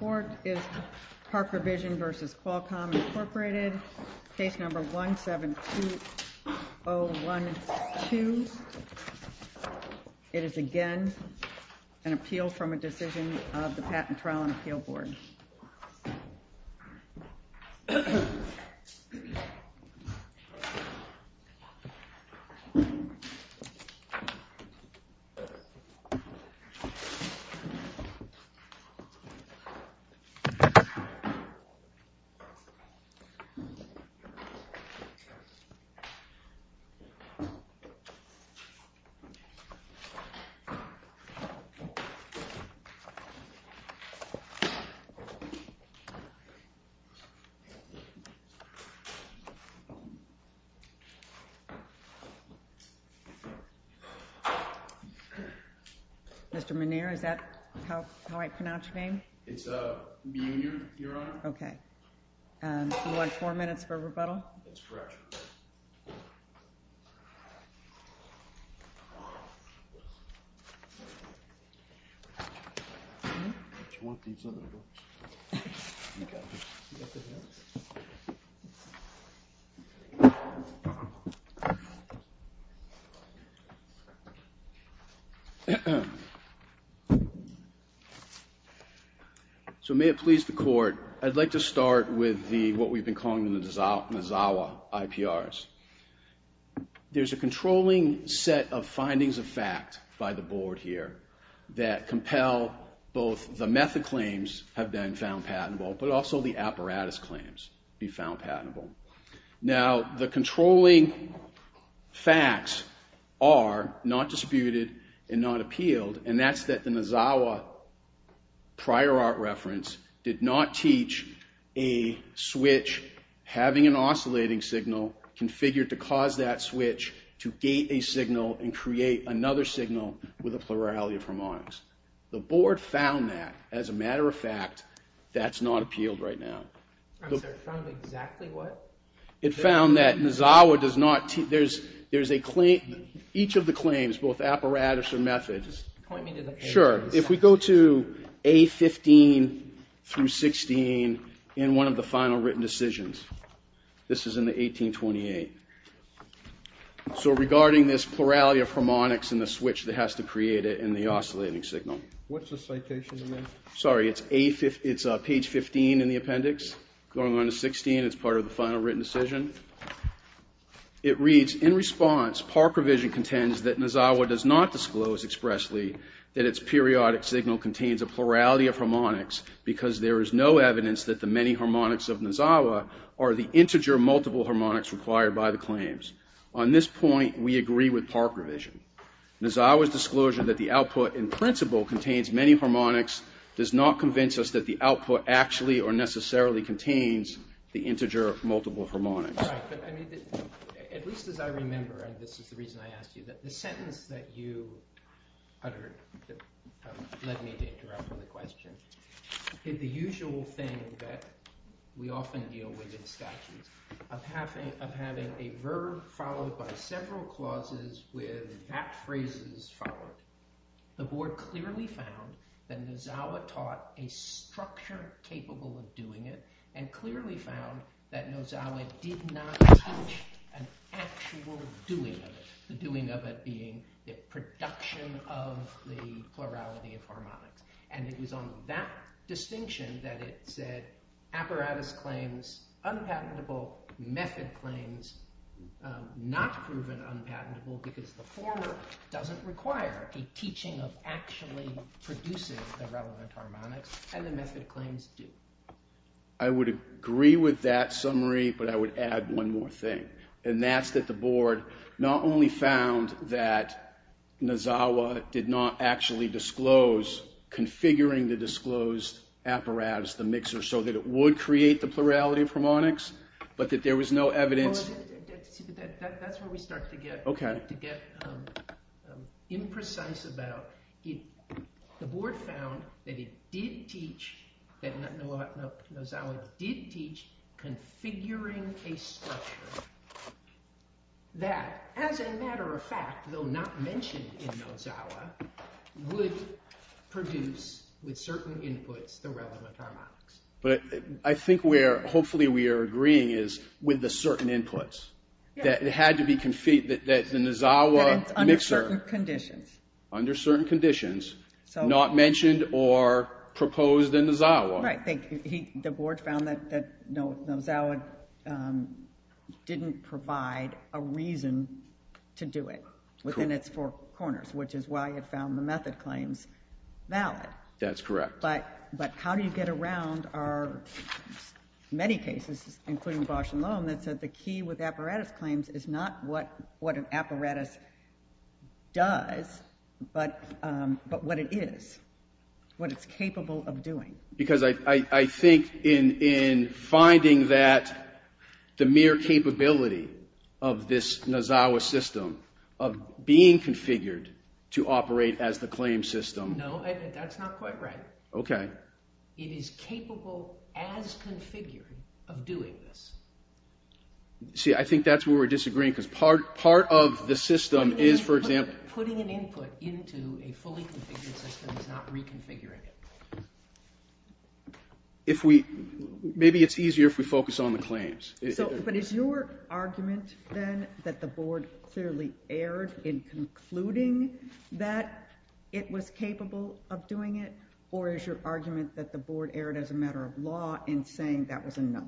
Case number 172012. It is again an appeal from a decision of the Patent Trial and Appeal Board. Mr. Muneer, is that how I pronounce your name? It's Muneer, Your Honor. Okay. Do you want four minutes for rebuttal? That's correct. So may it please the Court, I'd like to start with what we've been calling the Nazawa IP RPRs. There's a controlling set of findings of fact by the Board here that compel both the method claims have been found patentable, but also the apparatus claims be found patentable. Now the controlling facts are not disputed and not appealed, and that's that the Nazawa prior art reference did not teach a switch having an oscillating signal configured to cause that switch to gate a signal and create another signal with a plurality of harmonics. The Board found that. As a matter of fact, that's not appealed right now. I'm sorry, found exactly what? It found that Nazawa does not teach, there's a claim, each of the claims, both apparatus and methods. Point me to the papers. Sure. If we go to A15 through 16 in one of the final written decisions, this is in the 1828. So regarding this plurality of harmonics in the switch that has to create it in the oscillating signal. What's the citation in there? Sorry, it's page 15 in the appendix, going on to 16, it's part of the final written decision. It reads, in response, Park Revision contends that Nazawa does not disclose expressly that its periodic signal contains a plurality of harmonics because there is no evidence that the many harmonics of Nazawa are the integer multiple harmonics required by the claims. On this point, we agree with Park Revision. Nazawa's disclosure that the output in principle contains many harmonics does not convince us that the output actually or necessarily contains the integer multiple harmonics. Right, but I mean, at least as I remember, and this is the reason I asked you, that the sentence that you uttered led me to interrupt the question, is the usual thing that we often deal with in statutes, of having a verb followed by several clauses with that phrase followed. The board clearly found that Nazawa taught a structure capable of doing it, and clearly found that Nazawa did not teach an actual doing of it, the doing of it being the production of the plurality of harmonics. And it was on that distinction that it said, apparatus claims, unpatentable, method claims, not proven unpatentable because the former doesn't require a teaching of actually producing the relevant harmonics, and the method claims do. I would agree with that summary, but I would add one more thing. And that's that the board not only found that Nazawa did not actually disclose configuring the disclosed apparatus, the mixer, so that it would create the plurality of harmonics, but that there was no evidence. That's where we start to get imprecise about. The board found that it did teach, that Nazawa did teach configuring a structure that, as a matter of fact, though not mentioned in Nazawa, would produce, with certain inputs, the relevant harmonics. But I think where hopefully we are agreeing is with the certain inputs. Yes. That it had to be, that the Nazawa mixer. That it's under certain conditions. Under certain conditions. So. Not mentioned or proposed in Nazawa. Right. The board found that Nazawa didn't provide a reason to do it. Cool. Within its four corners, which is why it found the method claims valid. That's correct. But how do you get around our many cases, including Bosh and Loam, that said the key with apparatus claims is not what an apparatus does, but what it is. What it's capable of doing. Because I think in finding that the mere capability of this Nazawa system of being configured to operate as the claim system. No. That's not quite right. Okay. It is capable, as configured, of doing this. See, I think that's where we're disagreeing, because part of the system is, for example. Putting an input into a fully configured system is not reconfiguring it. But is your argument, then, that the board clearly erred in concluding that it was capable of doing it? Or is your argument that the board erred as a matter of law in saying that was enough?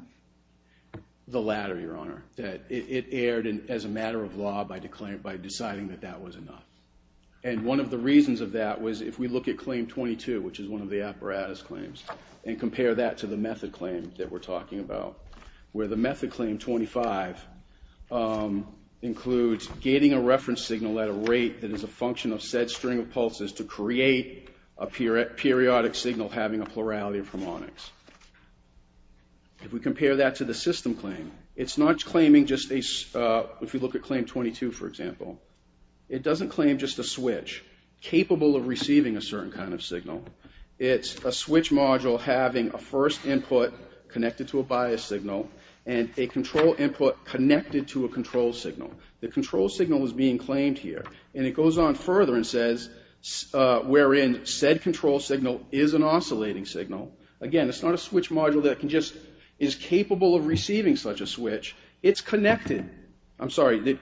The latter, Your Honor. That it erred as a matter of law by deciding that that was enough. And one of the reasons of that was, if we look at claim 22, which is one of the apparatus claims, and compare that to the method claim that we're talking about, where the method claim 25 includes getting a reference signal at a rate that is a function of said string of pulses to create a periodic signal having a plurality of harmonics. If we compare that to the system claim, it's not claiming just a... If you look at claim 22, for example, it doesn't claim just a switch capable of receiving a certain kind of signal. It's a switch module having a first input connected to a bias signal and a control input connected to a control signal. The control signal is being claimed here. And it goes on further and says, wherein said control signal is an oscillating signal. Again, it's not a switch module that can just... Is capable of receiving such a switch. It's connected. I'm sorry.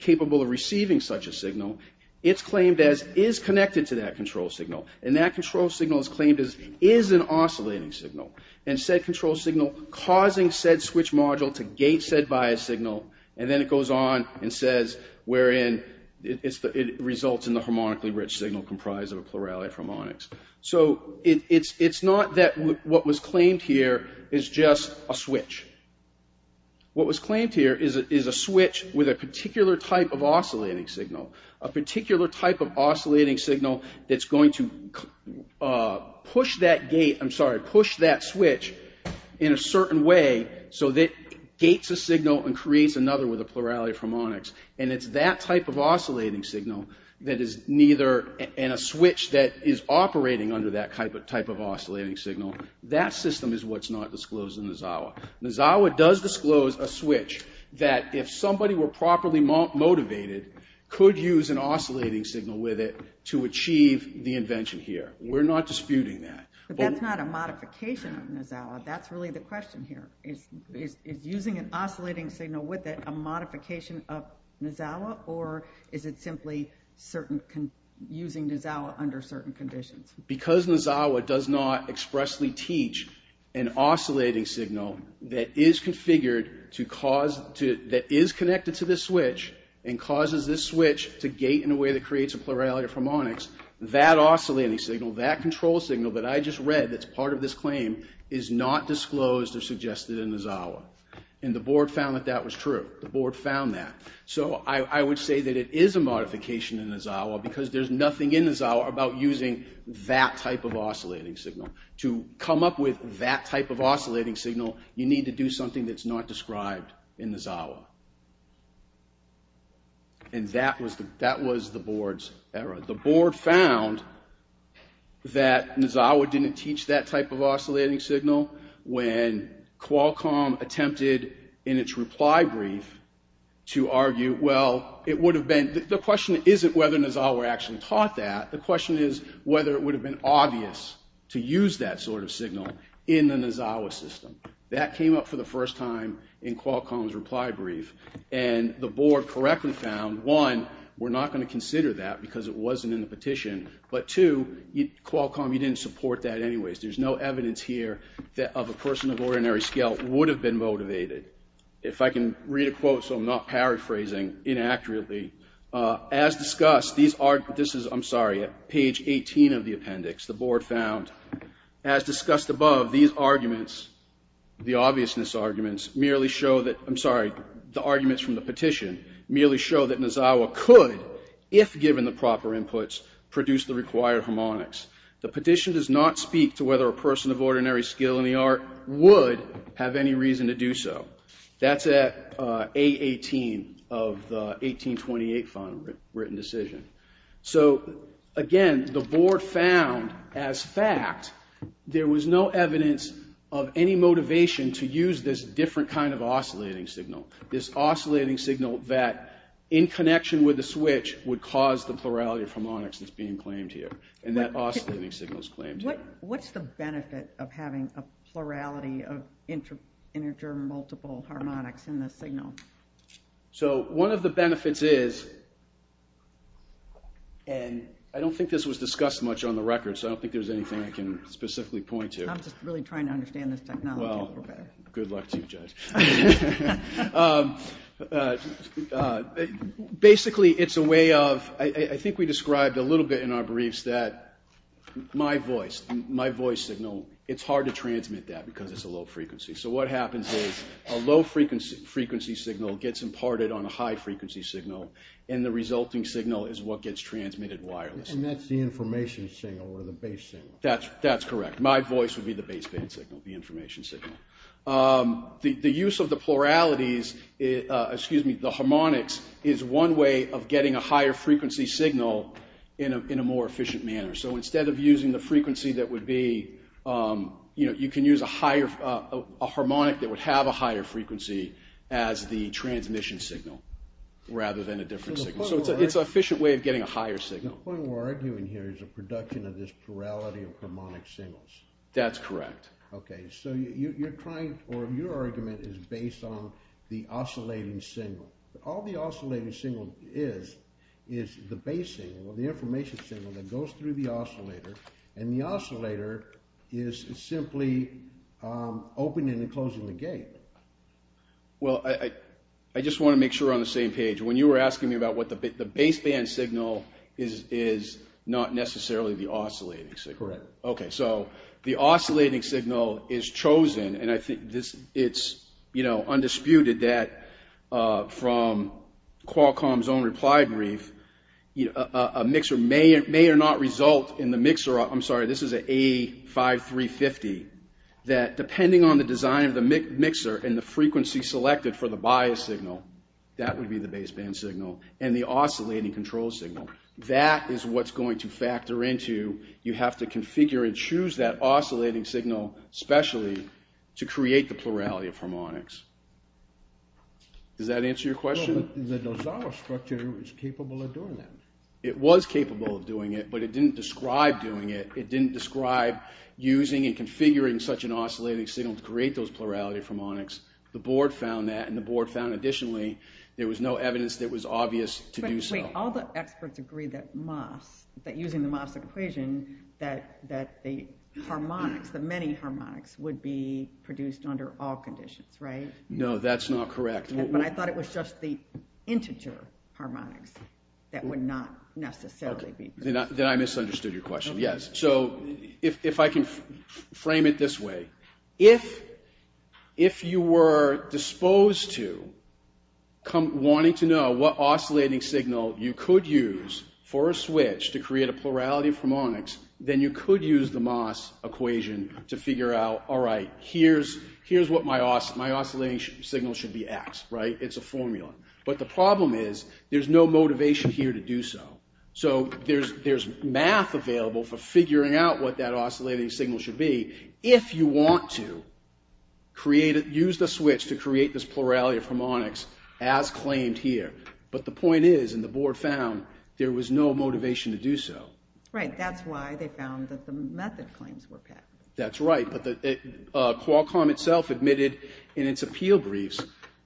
Capable of receiving such a signal. It's claimed as is connected to that control signal. And that control signal is claimed as is an oscillating signal. And said control signal causing said switch module to gate said bias signal. And then it goes on and says, wherein it results in the harmonically rich signal comprised of a plurality of harmonics. So it's not that what was claimed here is just a switch. What was claimed here is a switch with a particular type of oscillating signal. A particular type of oscillating signal that's going to push that gate... I'm sorry. Push that switch in a certain way. So that gates a signal and creates another with a plurality of harmonics. And it's that type of oscillating signal that is neither... And a switch that is operating under that type of oscillating signal. That system is what's not disclosed in the Zawa. The Zawa does disclose a switch that if somebody were properly motivated, could use an oscillating signal with it to achieve the invention here. We're not disputing that. But that's not a modification of the Zawa. That's really the question here. Is using an oscillating signal with it a modification of the Zawa? Or is it simply using the Zawa under certain conditions? Because the Zawa does not expressly teach an oscillating signal that is connected to this switch and causes this switch to gate in a way that creates a plurality of harmonics, that oscillating signal, that control signal that I just read that's part of this claim is not disclosed or suggested in the Zawa. And the board found that that was true. The board found that. So I would say that it is a modification in the Zawa because there's nothing in the Zawa about using that type of oscillating signal. To come up with that type of oscillating signal, you need to do something that's not described in the Zawa. And that was the board's error. The board found that the Zawa didn't teach that type of oscillating signal when Qualcomm attempted in its reply brief to argue, the question isn't whether the Zawa actually taught that. The question is whether it would have been obvious to use that sort of signal in the Zawa system. That came up for the first time in Qualcomm's reply brief. And the board correctly found, one, we're not going to consider that because it wasn't in the petition. But two, Qualcomm, you didn't support that anyways. There's no evidence here that of a person of ordinary skill would have been motivated. If I can read a quote so I'm not paraphrasing inaccurately. As discussed, these are, this is, I'm sorry, at page 18 of the appendix, the board found, as discussed above, these arguments, the obviousness arguments merely show that, I'm sorry, the arguments from the petition merely show that the Zawa could, if given the proper inputs, produce the required harmonics. The petition does not speak to whether a person of ordinary skill in the art would have any reason to do so. That's at A18 of the 1828 final written decision. So, again, the board found, as fact, there was no evidence of any motivation to use this different kind of oscillating signal. This oscillating signal that, in connection with the switch, would cause the plurality of harmonics that's being claimed here. And that oscillating signal is claimed here. What's the benefit of having a plurality of integer multiple harmonics in the signal? So, one of the benefits is, and I don't think this was discussed much on the record, so I don't think there's anything I can specifically point to. I'm just really trying to understand this technology. Well, good luck to you, Judge. Basically, it's a way of, I think we described a little bit in our briefs that my voice, my voice signal, it's hard to transmit that because it's a low frequency. So what happens is a low frequency signal gets imparted on a high frequency signal, and the resulting signal is what gets transmitted wirelessly. And that's the information signal or the base signal. That's correct. My voice would be the baseband signal, the information signal. The use of the pluralities, excuse me, the harmonics, is one way of getting a higher frequency signal in a more efficient manner. So instead of using the frequency that would be, you know, you can use a harmonic that would have a higher frequency as the transmission signal rather than a different signal. So it's an efficient way of getting a higher signal. The point we're arguing here is a production of this plurality of harmonic signals. That's correct. Okay, so you're trying, or your argument is based on the oscillating signal. All the oscillating signal is is the base signal or the information signal that goes through the oscillator, and the oscillator is simply opening and closing the gate. Well, I just want to make sure we're on the same page. When you were asking me about what the baseband signal is, is not necessarily the oscillating signal. Correct. Okay, so the oscillating signal is chosen, and I think it's, you know, undisputed that from Qualcomm's own reply brief, you know, a mixer may or may not result in the mixer, I'm sorry, this is an A5350, that depending on the design of the mixer and the frequency selected for the bias signal, that would be the baseband signal, and the oscillating control signal. That is what's going to factor into, you have to configure and choose that oscillating signal specially to create the plurality of harmonics. Does that answer your question? Well, but the Nozawa structure is capable of doing that. It was capable of doing it, but it didn't describe doing it. It didn't describe using and configuring such an oscillating signal to create those plurality of harmonics. The board found that, and the board found additionally there was no evidence that it was obvious to do so. Wait, all the experts agree that MOS, that using the MOS equation, that the harmonics, the many harmonics, would be produced under all conditions, right? No, that's not correct. But I thought it was just the integer harmonics that would not necessarily be produced. Then I misunderstood your question, yes. So if I can frame it this way, if you were disposed to wanting to know what oscillating signal you could use for a switch to create a plurality of harmonics, then you could use the MOS equation to figure out, all right, here's what my oscillating signal should be at, right? It's a formula. But the problem is there's no motivation here to do so. So there's math available for figuring out what that oscillating signal should be if you want to use the switch to create this plurality of harmonics as claimed here. But the point is, and the board found, there was no motivation to do so. Right. That's why they found that the method claims were patented. That's right. Qualcomm itself admitted in its appeal briefs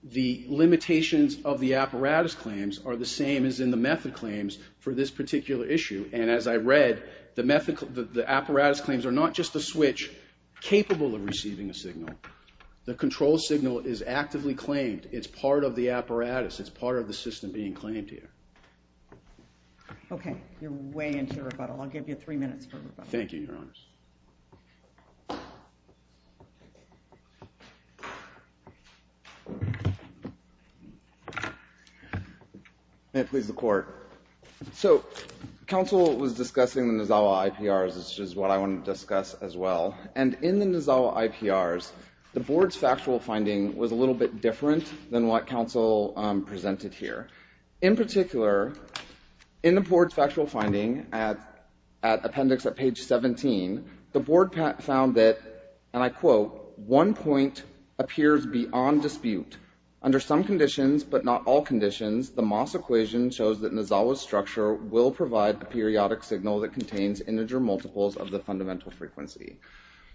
the limitations of the apparatus claims are the same as in the method claims for this particular issue. And as I read, the apparatus claims are not just a switch capable of receiving a signal. The control signal is actively claimed. It's part of the apparatus. It's part of the system being claimed here. OK. You're way into your rebuttal. I'll give you three minutes for rebuttal. Thank you, Your Honors. May it please the court. So counsel was discussing the Nozawa IPRs, which is what I want to discuss as well. And in the Nozawa IPRs, the board's factual finding was a little bit different than what counsel presented here. In particular, in the board's factual finding at appendix at page 17, the board found that, and I quote, one point appears beyond dispute. Under some conditions, but not all conditions, the Moss equation shows that Nozawa's structure will provide a periodic signal that contains integer multiples of the fundamental frequency.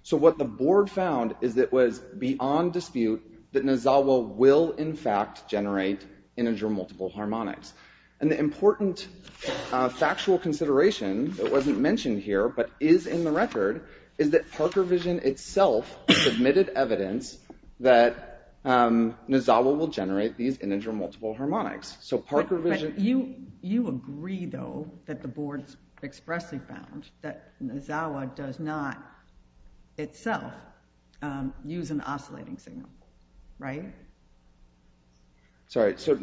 So what the board found is that it was beyond dispute that Nozawa will, in fact, generate integer multiple harmonics. And the important factual consideration, it wasn't mentioned here, but is in the record, is that Parker Vision itself submitted evidence that Nozawa will generate these integer multiple harmonics. So Parker Vision. But you agree, though, that the board expressly found that Nozawa does not itself use an oscillating signal, right? Sorry. So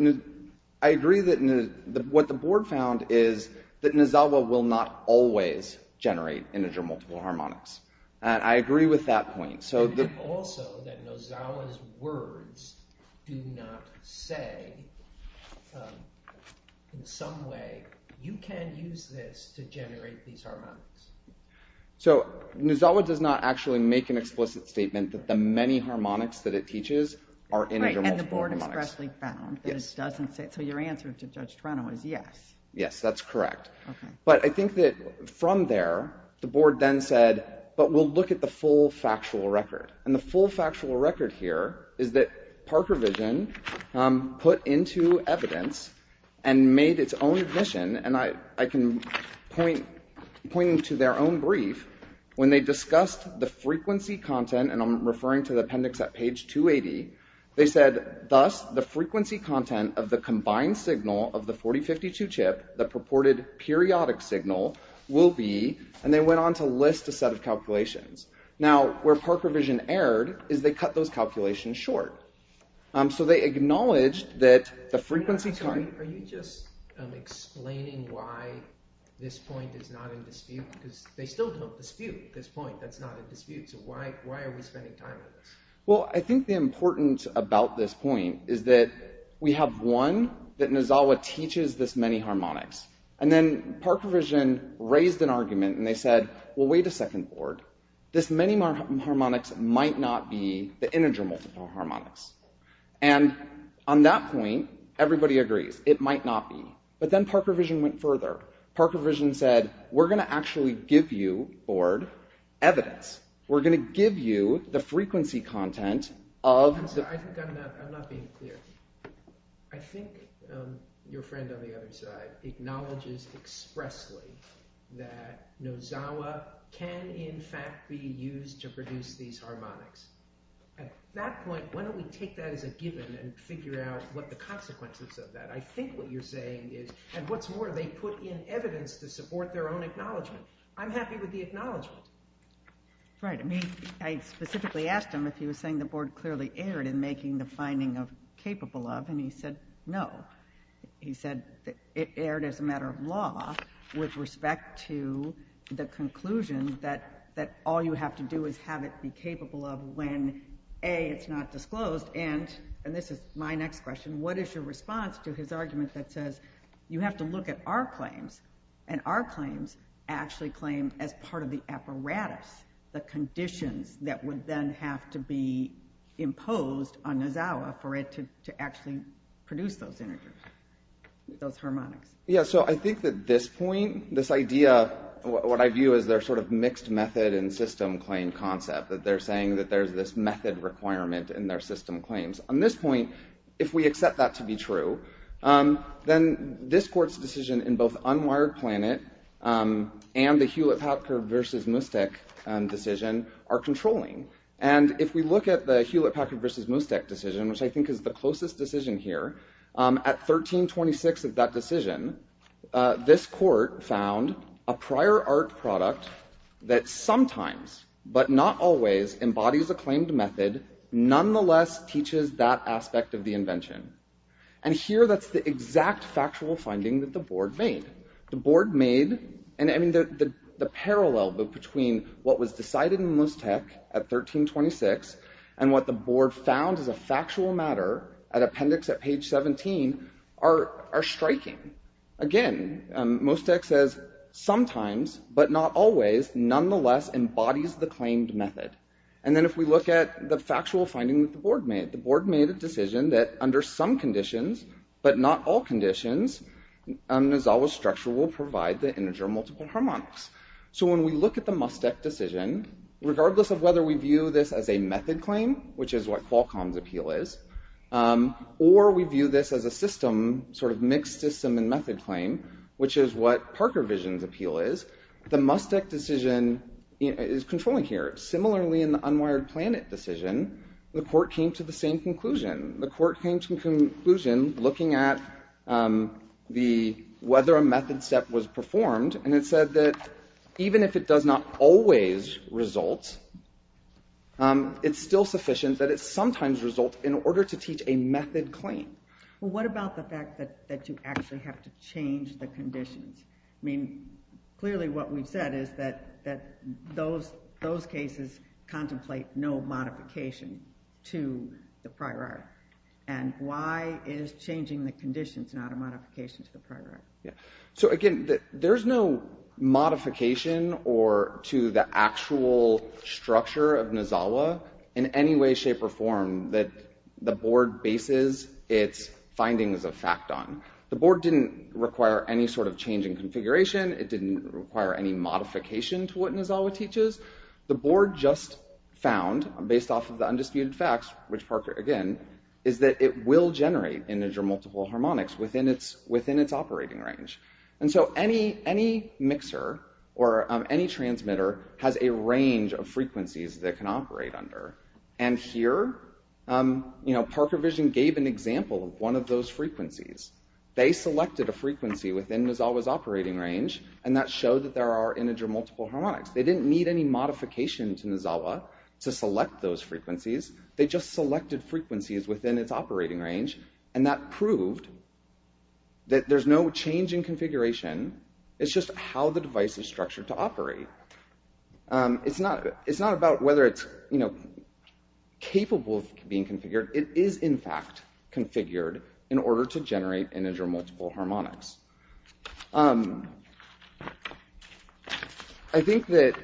I agree that what the board found is that Nozawa will not always generate integer multiple harmonics. And I agree with that point. Also that Nozawa's words do not say in some way, you can't use this to generate these harmonics. So Nozawa does not actually make an explicit statement that the many harmonics that it teaches are integer multiple harmonics. Right, and the board expressly found that it doesn't say. So your answer to Judge Toronto is yes. Yes, that's correct. Okay. But I think that from there, the board then said, but we'll look at the full factual record. And the full factual record here is that Parker Vision put into evidence and made its own admission, and I can point to their own brief. When they discussed the frequency content, and I'm referring to the appendix at page 280, they said, thus the frequency content of the combined signal of the 4052 chip, the purported periodic signal, will be, and they went on to list a set of calculations. Now where Parker Vision erred is they cut those calculations short. So they acknowledged that the frequency time… Are you just explaining why this point is not in dispute? Because they still don't dispute this point that's not in dispute. So why are we spending time on this? Well, I think the importance about this point is that we have, one, that Nozawa teaches this many harmonics. And then Parker Vision raised an argument and they said, well, wait a second, board. This many harmonics might not be the integer multiple harmonics. And on that point, everybody agrees. It might not be. But then Parker Vision went further. Parker Vision said, we're going to actually give you, board, evidence. We're going to give you the frequency content of… I'm not being clear. I think your friend on the other side acknowledges expressly that Nozawa can, in fact, be used to produce these harmonics. At that point, why don't we take that as a given and figure out what the consequences of that. I think what you're saying is, and what's more, they put in evidence to support their own acknowledgment. I'm happy with the acknowledgment. Right. I specifically asked him if he was saying the board clearly erred in making the finding of capable of, and he said no. He said it erred as a matter of law with respect to the conclusion that all you have to do is have it be capable of when, A, it's not disclosed, and this is my next question, what is your response to his argument that says you have to look at our claims, and our claims actually claim as part of the apparatus, the conditions that would then have to be imposed on Nozawa for it to actually produce those integers, those harmonics? Yeah, so I think that this point, this idea, what I view as their sort of mixed method and system claim concept, that they're saying that there's this method requirement in their system claims. On this point, if we accept that to be true, then this court's decision in both Unwired Planet and the Hewlett-Packard v. Mustek decision are controlling. And if we look at the Hewlett-Packard v. Mustek decision, which I think is the closest decision here, at 1326 of that decision, this court found a prior art product that sometimes, but not always, embodies a claimed method, nonetheless teaches that aspect of the invention. And here, that's the exact factual finding that the board made. The board made, I mean, the parallel between what was decided in Mustek at 1326 and what the board found as a factual matter at appendix at page 17 are striking. Again, Mustek says sometimes, but not always, nonetheless embodies the claimed method. And then if we look at the factual finding that the board made, the board made a decision that under some conditions, but not all conditions, Nozawa's structure will provide the integer multiple harmonics. So when we look at the Mustek decision, regardless of whether we view this as a method claim, which is what Qualcomm's appeal is, or we view this as a system, sort of mixed system and method claim, which is what Parker Vision's appeal is, the Mustek decision is controlling here. Similarly, in the unwired planet decision, the court came to the same conclusion. The court came to the conclusion, looking at whether a method step was performed, and it said that even if it does not always result, it's still sufficient that it sometimes results in order to teach a method claim. What about the fact that you actually have to change the conditions? I mean, clearly what we've said is that those cases contemplate no modification to the prior art. And why is changing the conditions not a modification to the prior art? So again, there's no modification to the actual structure of Nozawa in any way, shape, or form that the board bases its findings of fact on. The board didn't require any sort of change in configuration. It didn't require any modification to what Nozawa teaches. The board just found, based off of the undisputed facts, which Parker, again, is that it will generate integer multiple harmonics within its operating range. And so any mixer or any transmitter has a range of frequencies that it can operate under. And here, Parker Vision gave an example of one of those frequencies. They selected a frequency within Nozawa's operating range, and that showed that there are integer multiple harmonics. They didn't need any modification to Nozawa to select those frequencies. They just selected frequencies within its operating range, and that proved that there's no change in configuration. It's just how the device is structured to operate. It's not about whether it's capable of being configured. It is, in fact, configured in order to generate integer multiple harmonics. I think that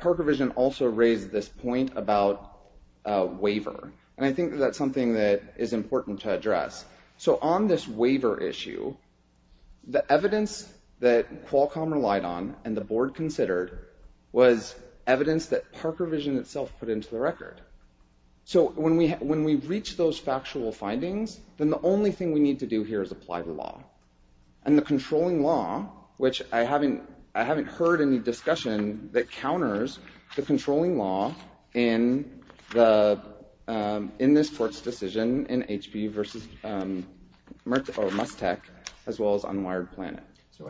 Parker Vision also raised this point about waiver. And I think that's something that is important to address. So on this waiver issue, the evidence that Qualcomm relied on and the board considered was evidence that Parker Vision itself put into the record. So when we reach those factual findings, then the only thing we need to do here is apply the law. And the controlling law, which I haven't heard any discussion that counters the controlling law in this court's decision in HP versus Mustech, as well as on Wired Planet. So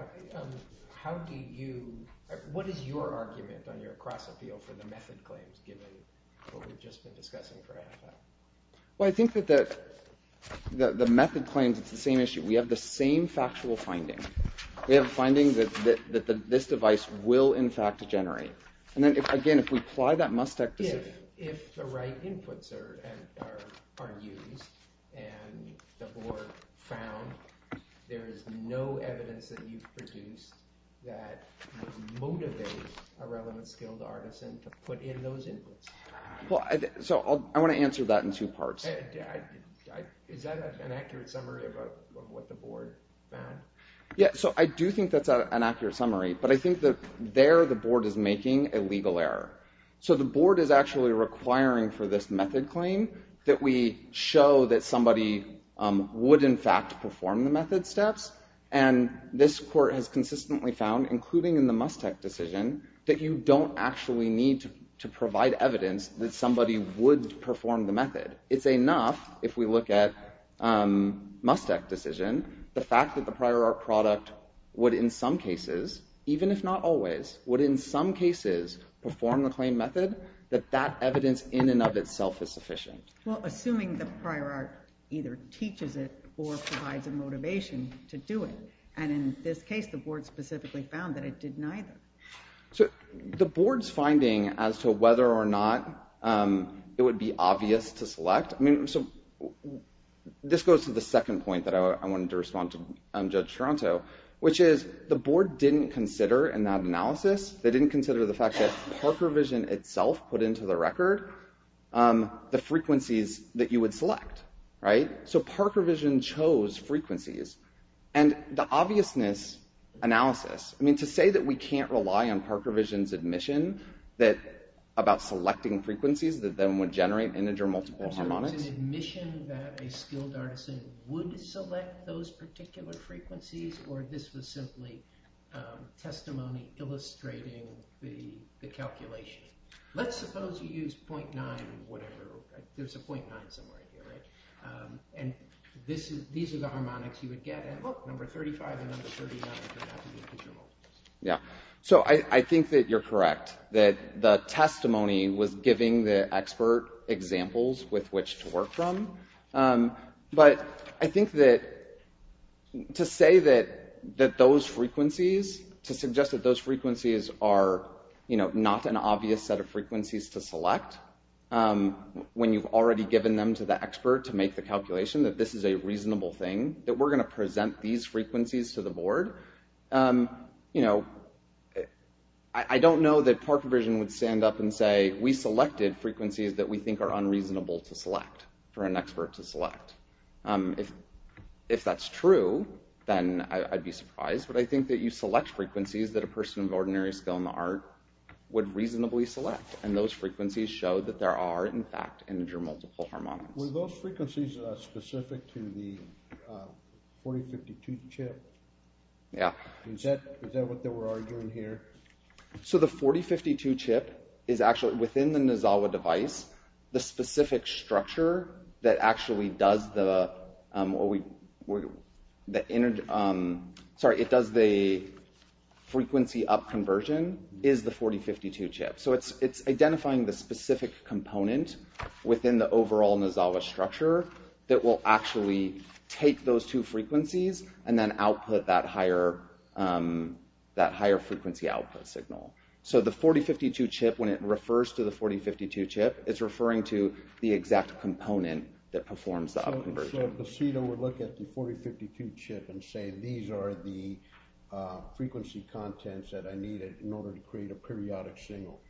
what is your argument on your cross-appeal for the method claims given what we've just been discussing for a half hour? Well, I think that the method claims, it's the same issue. We have the same factual findings. We have findings that this device will, in fact, generate. And then, again, if we apply that Mustech decision... If the right inputs are used and the board found there is no evidence that you've produced that would motivate a relevant skilled artisan to put in those inputs. So I want to answer that in two parts. Is that an accurate summary of what the board found? Yeah, so I do think that's an accurate summary. But I think that there the board is making a legal error. So the board is actually requiring for this method claim that we show that somebody would, in fact, perform the method steps. And this court has consistently found, including in the Mustech decision, that you don't actually need to provide evidence that somebody would perform the method. It's enough, if we look at Mustech decision, the fact that the prior art product would in some cases, even if not always, would in some cases perform the claim method, that that evidence in and of itself is sufficient. Well, assuming the prior art either teaches it or provides a motivation to do it. And in this case, the board specifically found that it did neither. So the board's finding as to whether or not it would be obvious to select... This goes to the second point that I wanted to respond to Judge Toronto, which is the board didn't consider in that analysis, they didn't consider the fact that Parker Vision itself put into the record the frequencies that you would select. So Parker Vision chose frequencies. And the obviousness analysis, to say that we can't rely on Parker Vision's admission about selecting frequencies that then would generate integer multiple harmonics. So it was an admission that a skilled artisan would select those particular frequencies or this was simply testimony illustrating the calculation. Let's suppose you use 0.9 or whatever. There's a 0.9 somewhere here, right? And these are the harmonics you would get. And look, number 35 and number 39 turn out to be integer multiples. Yeah. So I think that you're correct. That the testimony was giving the expert examples with which to work from. But I think that to say that those frequencies, to suggest that those frequencies are, you know, not an obvious set of frequencies to select when you've already given them to the expert to make the calculation that this is a reasonable thing, that we're going to present these frequencies to the board. You know, I don't know that Parker Vision would stand up and say, we selected frequencies that we think are unreasonable to select for an expert to select. If that's true, then I'd be surprised. But I think that you select frequencies that a person of ordinary skill in the art would reasonably select. And those frequencies show that there are, in fact, integer multiple harmonics. Were those frequencies specific to the 4052 chip? Yeah. Is that what they were arguing here? So the 4052 chip is actually, within the Nozawa device, the specific structure that actually does the frequency up conversion is the 4052 chip. So it's identifying the specific component within the overall Nozawa structure that will actually take those two frequencies and then output that higher frequency output signal. So the 4052 chip, when it refers to the 4052 chip, it's referring to the exact component that performs the up conversion. So the CETA would look at the 4052 chip and say, these are the frequency contents that I needed in order to create a periodic signal.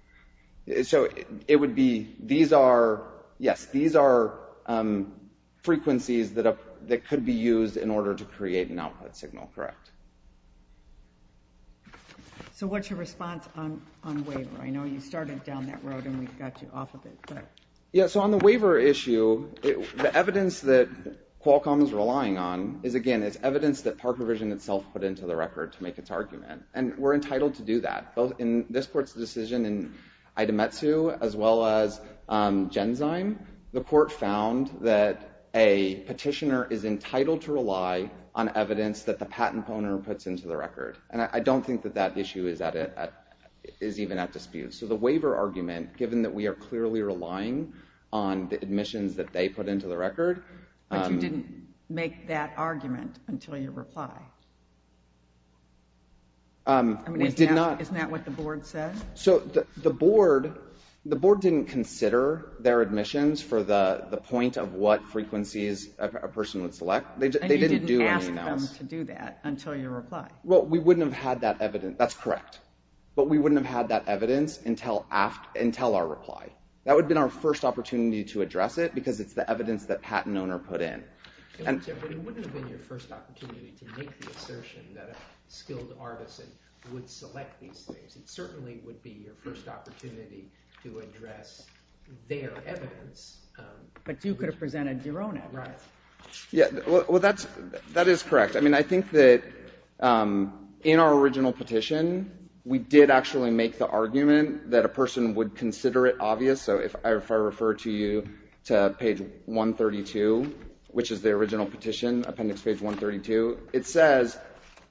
So it would be, yes, these are frequencies that could be used in order to create an output signal, correct. So what's your response on waiver? I know you started down that road and we got you off of it. Yeah, so on the waiver issue, the evidence that Qualcomm is relying on is, again, is evidence that PARC Revision itself put into the record to make its argument. And we're entitled to do that, both in this court's decision in Itametsu, as well as Genzyme. The court found that a petitioner is entitled to rely on evidence that the patent owner puts into the record. And I don't think that that issue is even at dispute. So the waiver argument, given that we are clearly relying on the admissions that they put into the record... But you didn't make that argument until your reply. We did not... I mean, isn't that what the board said? So the board didn't consider their admissions for the point of what frequencies a person would select. They didn't do anything else. And you didn't ask them to do that until your reply. Well, we wouldn't have had that evidence. That's correct. But we wouldn't have had that evidence until our reply. That would have been our first opportunity to address it because it's the evidence that the patent owner put in. But it wouldn't have been your first opportunity to make the assertion that a skilled artisan would select these things. It certainly would be your first opportunity to address their evidence. But you could have presented your own evidence. Well, that is correct. I mean, I think that in our original petition, we did actually make the argument that a person would consider it obvious. So if I refer to you to page 132, which is the original petition, appendix page 132, it says,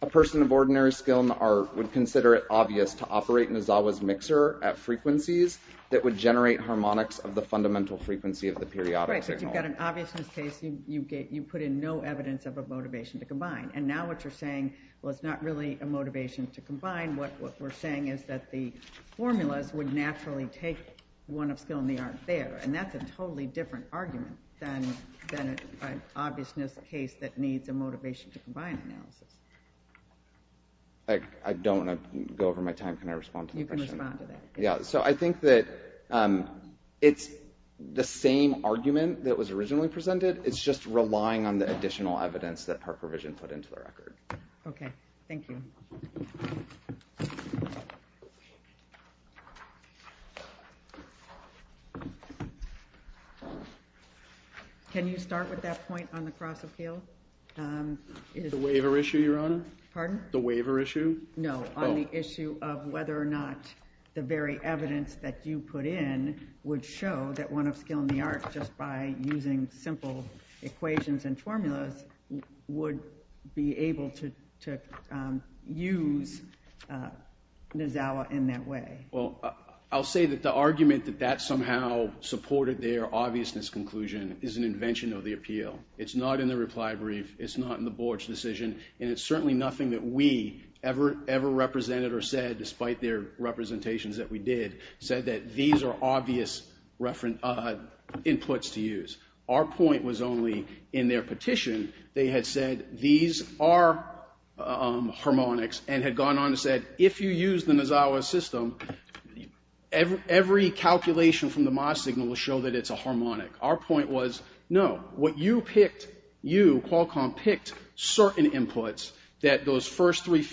a person of ordinary skill in the art would consider it obvious to operate an Asawa's mixer at frequencies that would generate harmonics of the fundamental frequency of the periodic signal. Right, but you've got an obviousness case. You put in no evidence of a motivation to combine. And now what you're saying, What we're saying is that the formulas would naturally take one of skill in the art there. And that's a totally different argument than an obviousness case that needs a motivation to combine analysis. I don't want to go over my time. Can I respond to the question? You can respond to that. Yeah, so I think that it's the same argument that was originally presented. It's just relying on the additional evidence that Park Revision put into the record. OK, thank you. Thank you. Can you start with that point on the cross appeal? The waiver issue, Your Honor? Pardon? The waiver issue? No, on the issue of whether or not the very evidence that you put in would show that one of skill in the art, just by using simple equations and formulas, would be able to use Nazawa in that way. Well, I'll say that the argument that that somehow supported their obviousness conclusion is an invention of the appeal. It's not in the reply brief. It's not in the board's decision. And it's certainly nothing that we ever, ever represented or said, despite their representations that we did, said that these are obvious inputs to use. Our point was only, in their petition, they had said these are harmonics, and had gone on and said, if you use the Nazawa system, every calculation from the MOS signal will show that it's a harmonic. Our point was, no, what you picked, you, Qualcomm, picked certain inputs that those first three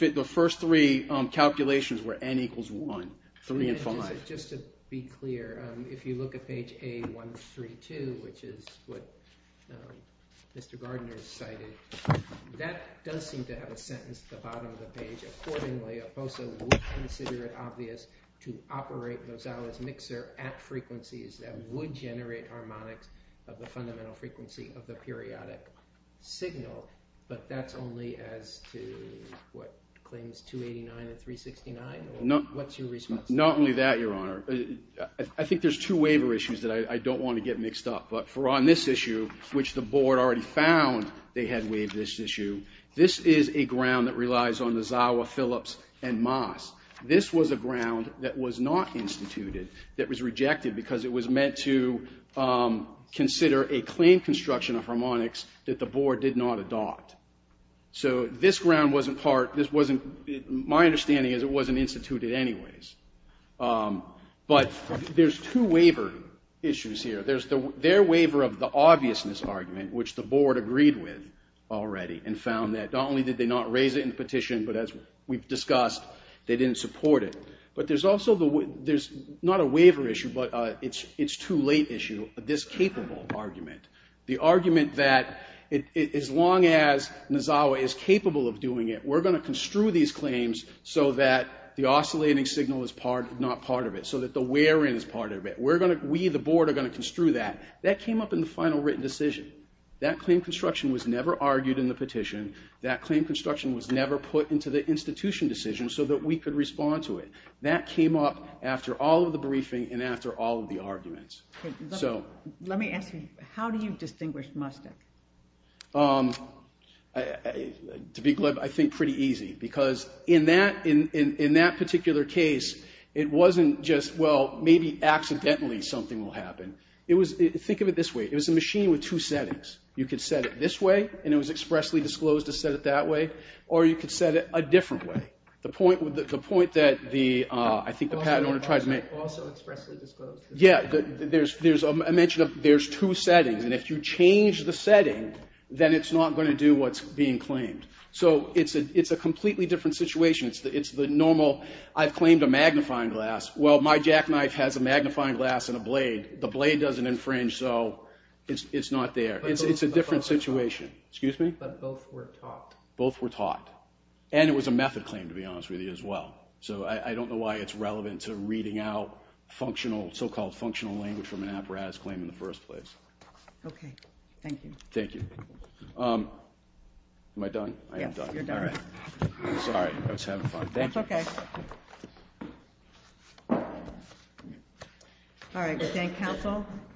calculations were N equals 1, 3 and 5. Just to be clear, if you look at page A132, which is what Mr. Gardner cited, that does seem to have a sentence at the bottom of the page. Accordingly, OPOSA would consider it obvious to operate Nazawa's mixer at frequencies that would generate harmonics of the fundamental frequency of the periodic signal. But that's only as to what claims 289 and 369? What's your response? Not only that, Your Honor. I think there's two waiver issues that I don't want to get mixed up. But for on this issue, which the board already found they had waived this issue, this is a ground that relies on Nazawa, Phillips, and MOS. This was a ground that was not instituted, that was rejected because it was meant to consider a claim construction of harmonics that the board did not adopt. So this ground wasn't part. My understanding is it wasn't instituted anyways. But there's two waiver issues here. There's their waiver of the obviousness argument, which the board agreed with already and found that not only did they not raise it in the petition, but as we've discussed, they didn't support it. But there's also not a waiver issue, but it's too late issue, this capable argument. The argument that as long as Nazawa is capable of doing it, we're going to construe these claims so that the oscillating signal is not part of it, so that the wear-in is part of it. We, the board, are going to construe that. That came up in the final written decision. That claim construction was never argued in the petition. That claim construction was never put into the institution decision so that we could respond to it. That came up after all of the briefing and after all of the arguments. Let me ask you, how do you distinguish must have? To be clear, I think pretty easy because in that particular case, it wasn't just, well, maybe accidentally something will happen. Think of it this way. It was a machine with two settings. You could set it this way, and it was expressly disclosed to set it that way, or you could set it a different way. The point that I think the patent owner tried to make... Also expressly disclosed. Yeah. I mentioned there's two settings, and if you change the setting, then it's not going to do what's being claimed. So it's a completely different situation. It's the normal, I've claimed a magnifying glass. Well, my jackknife has a magnifying glass and a blade. The blade doesn't infringe, so it's not there. It's a different situation. Excuse me? But both were taught. Both were taught. And it was a method claim, to be honest with you, as well. So I don't know why it's relevant to reading out so-called functional language from an apparatus claim in the first place. Okay. Thank you. Thank you. Yes, you're done. All right. Sorry, I was having fun. Thank you. That's okay. Okay. All right. Good day, counsel.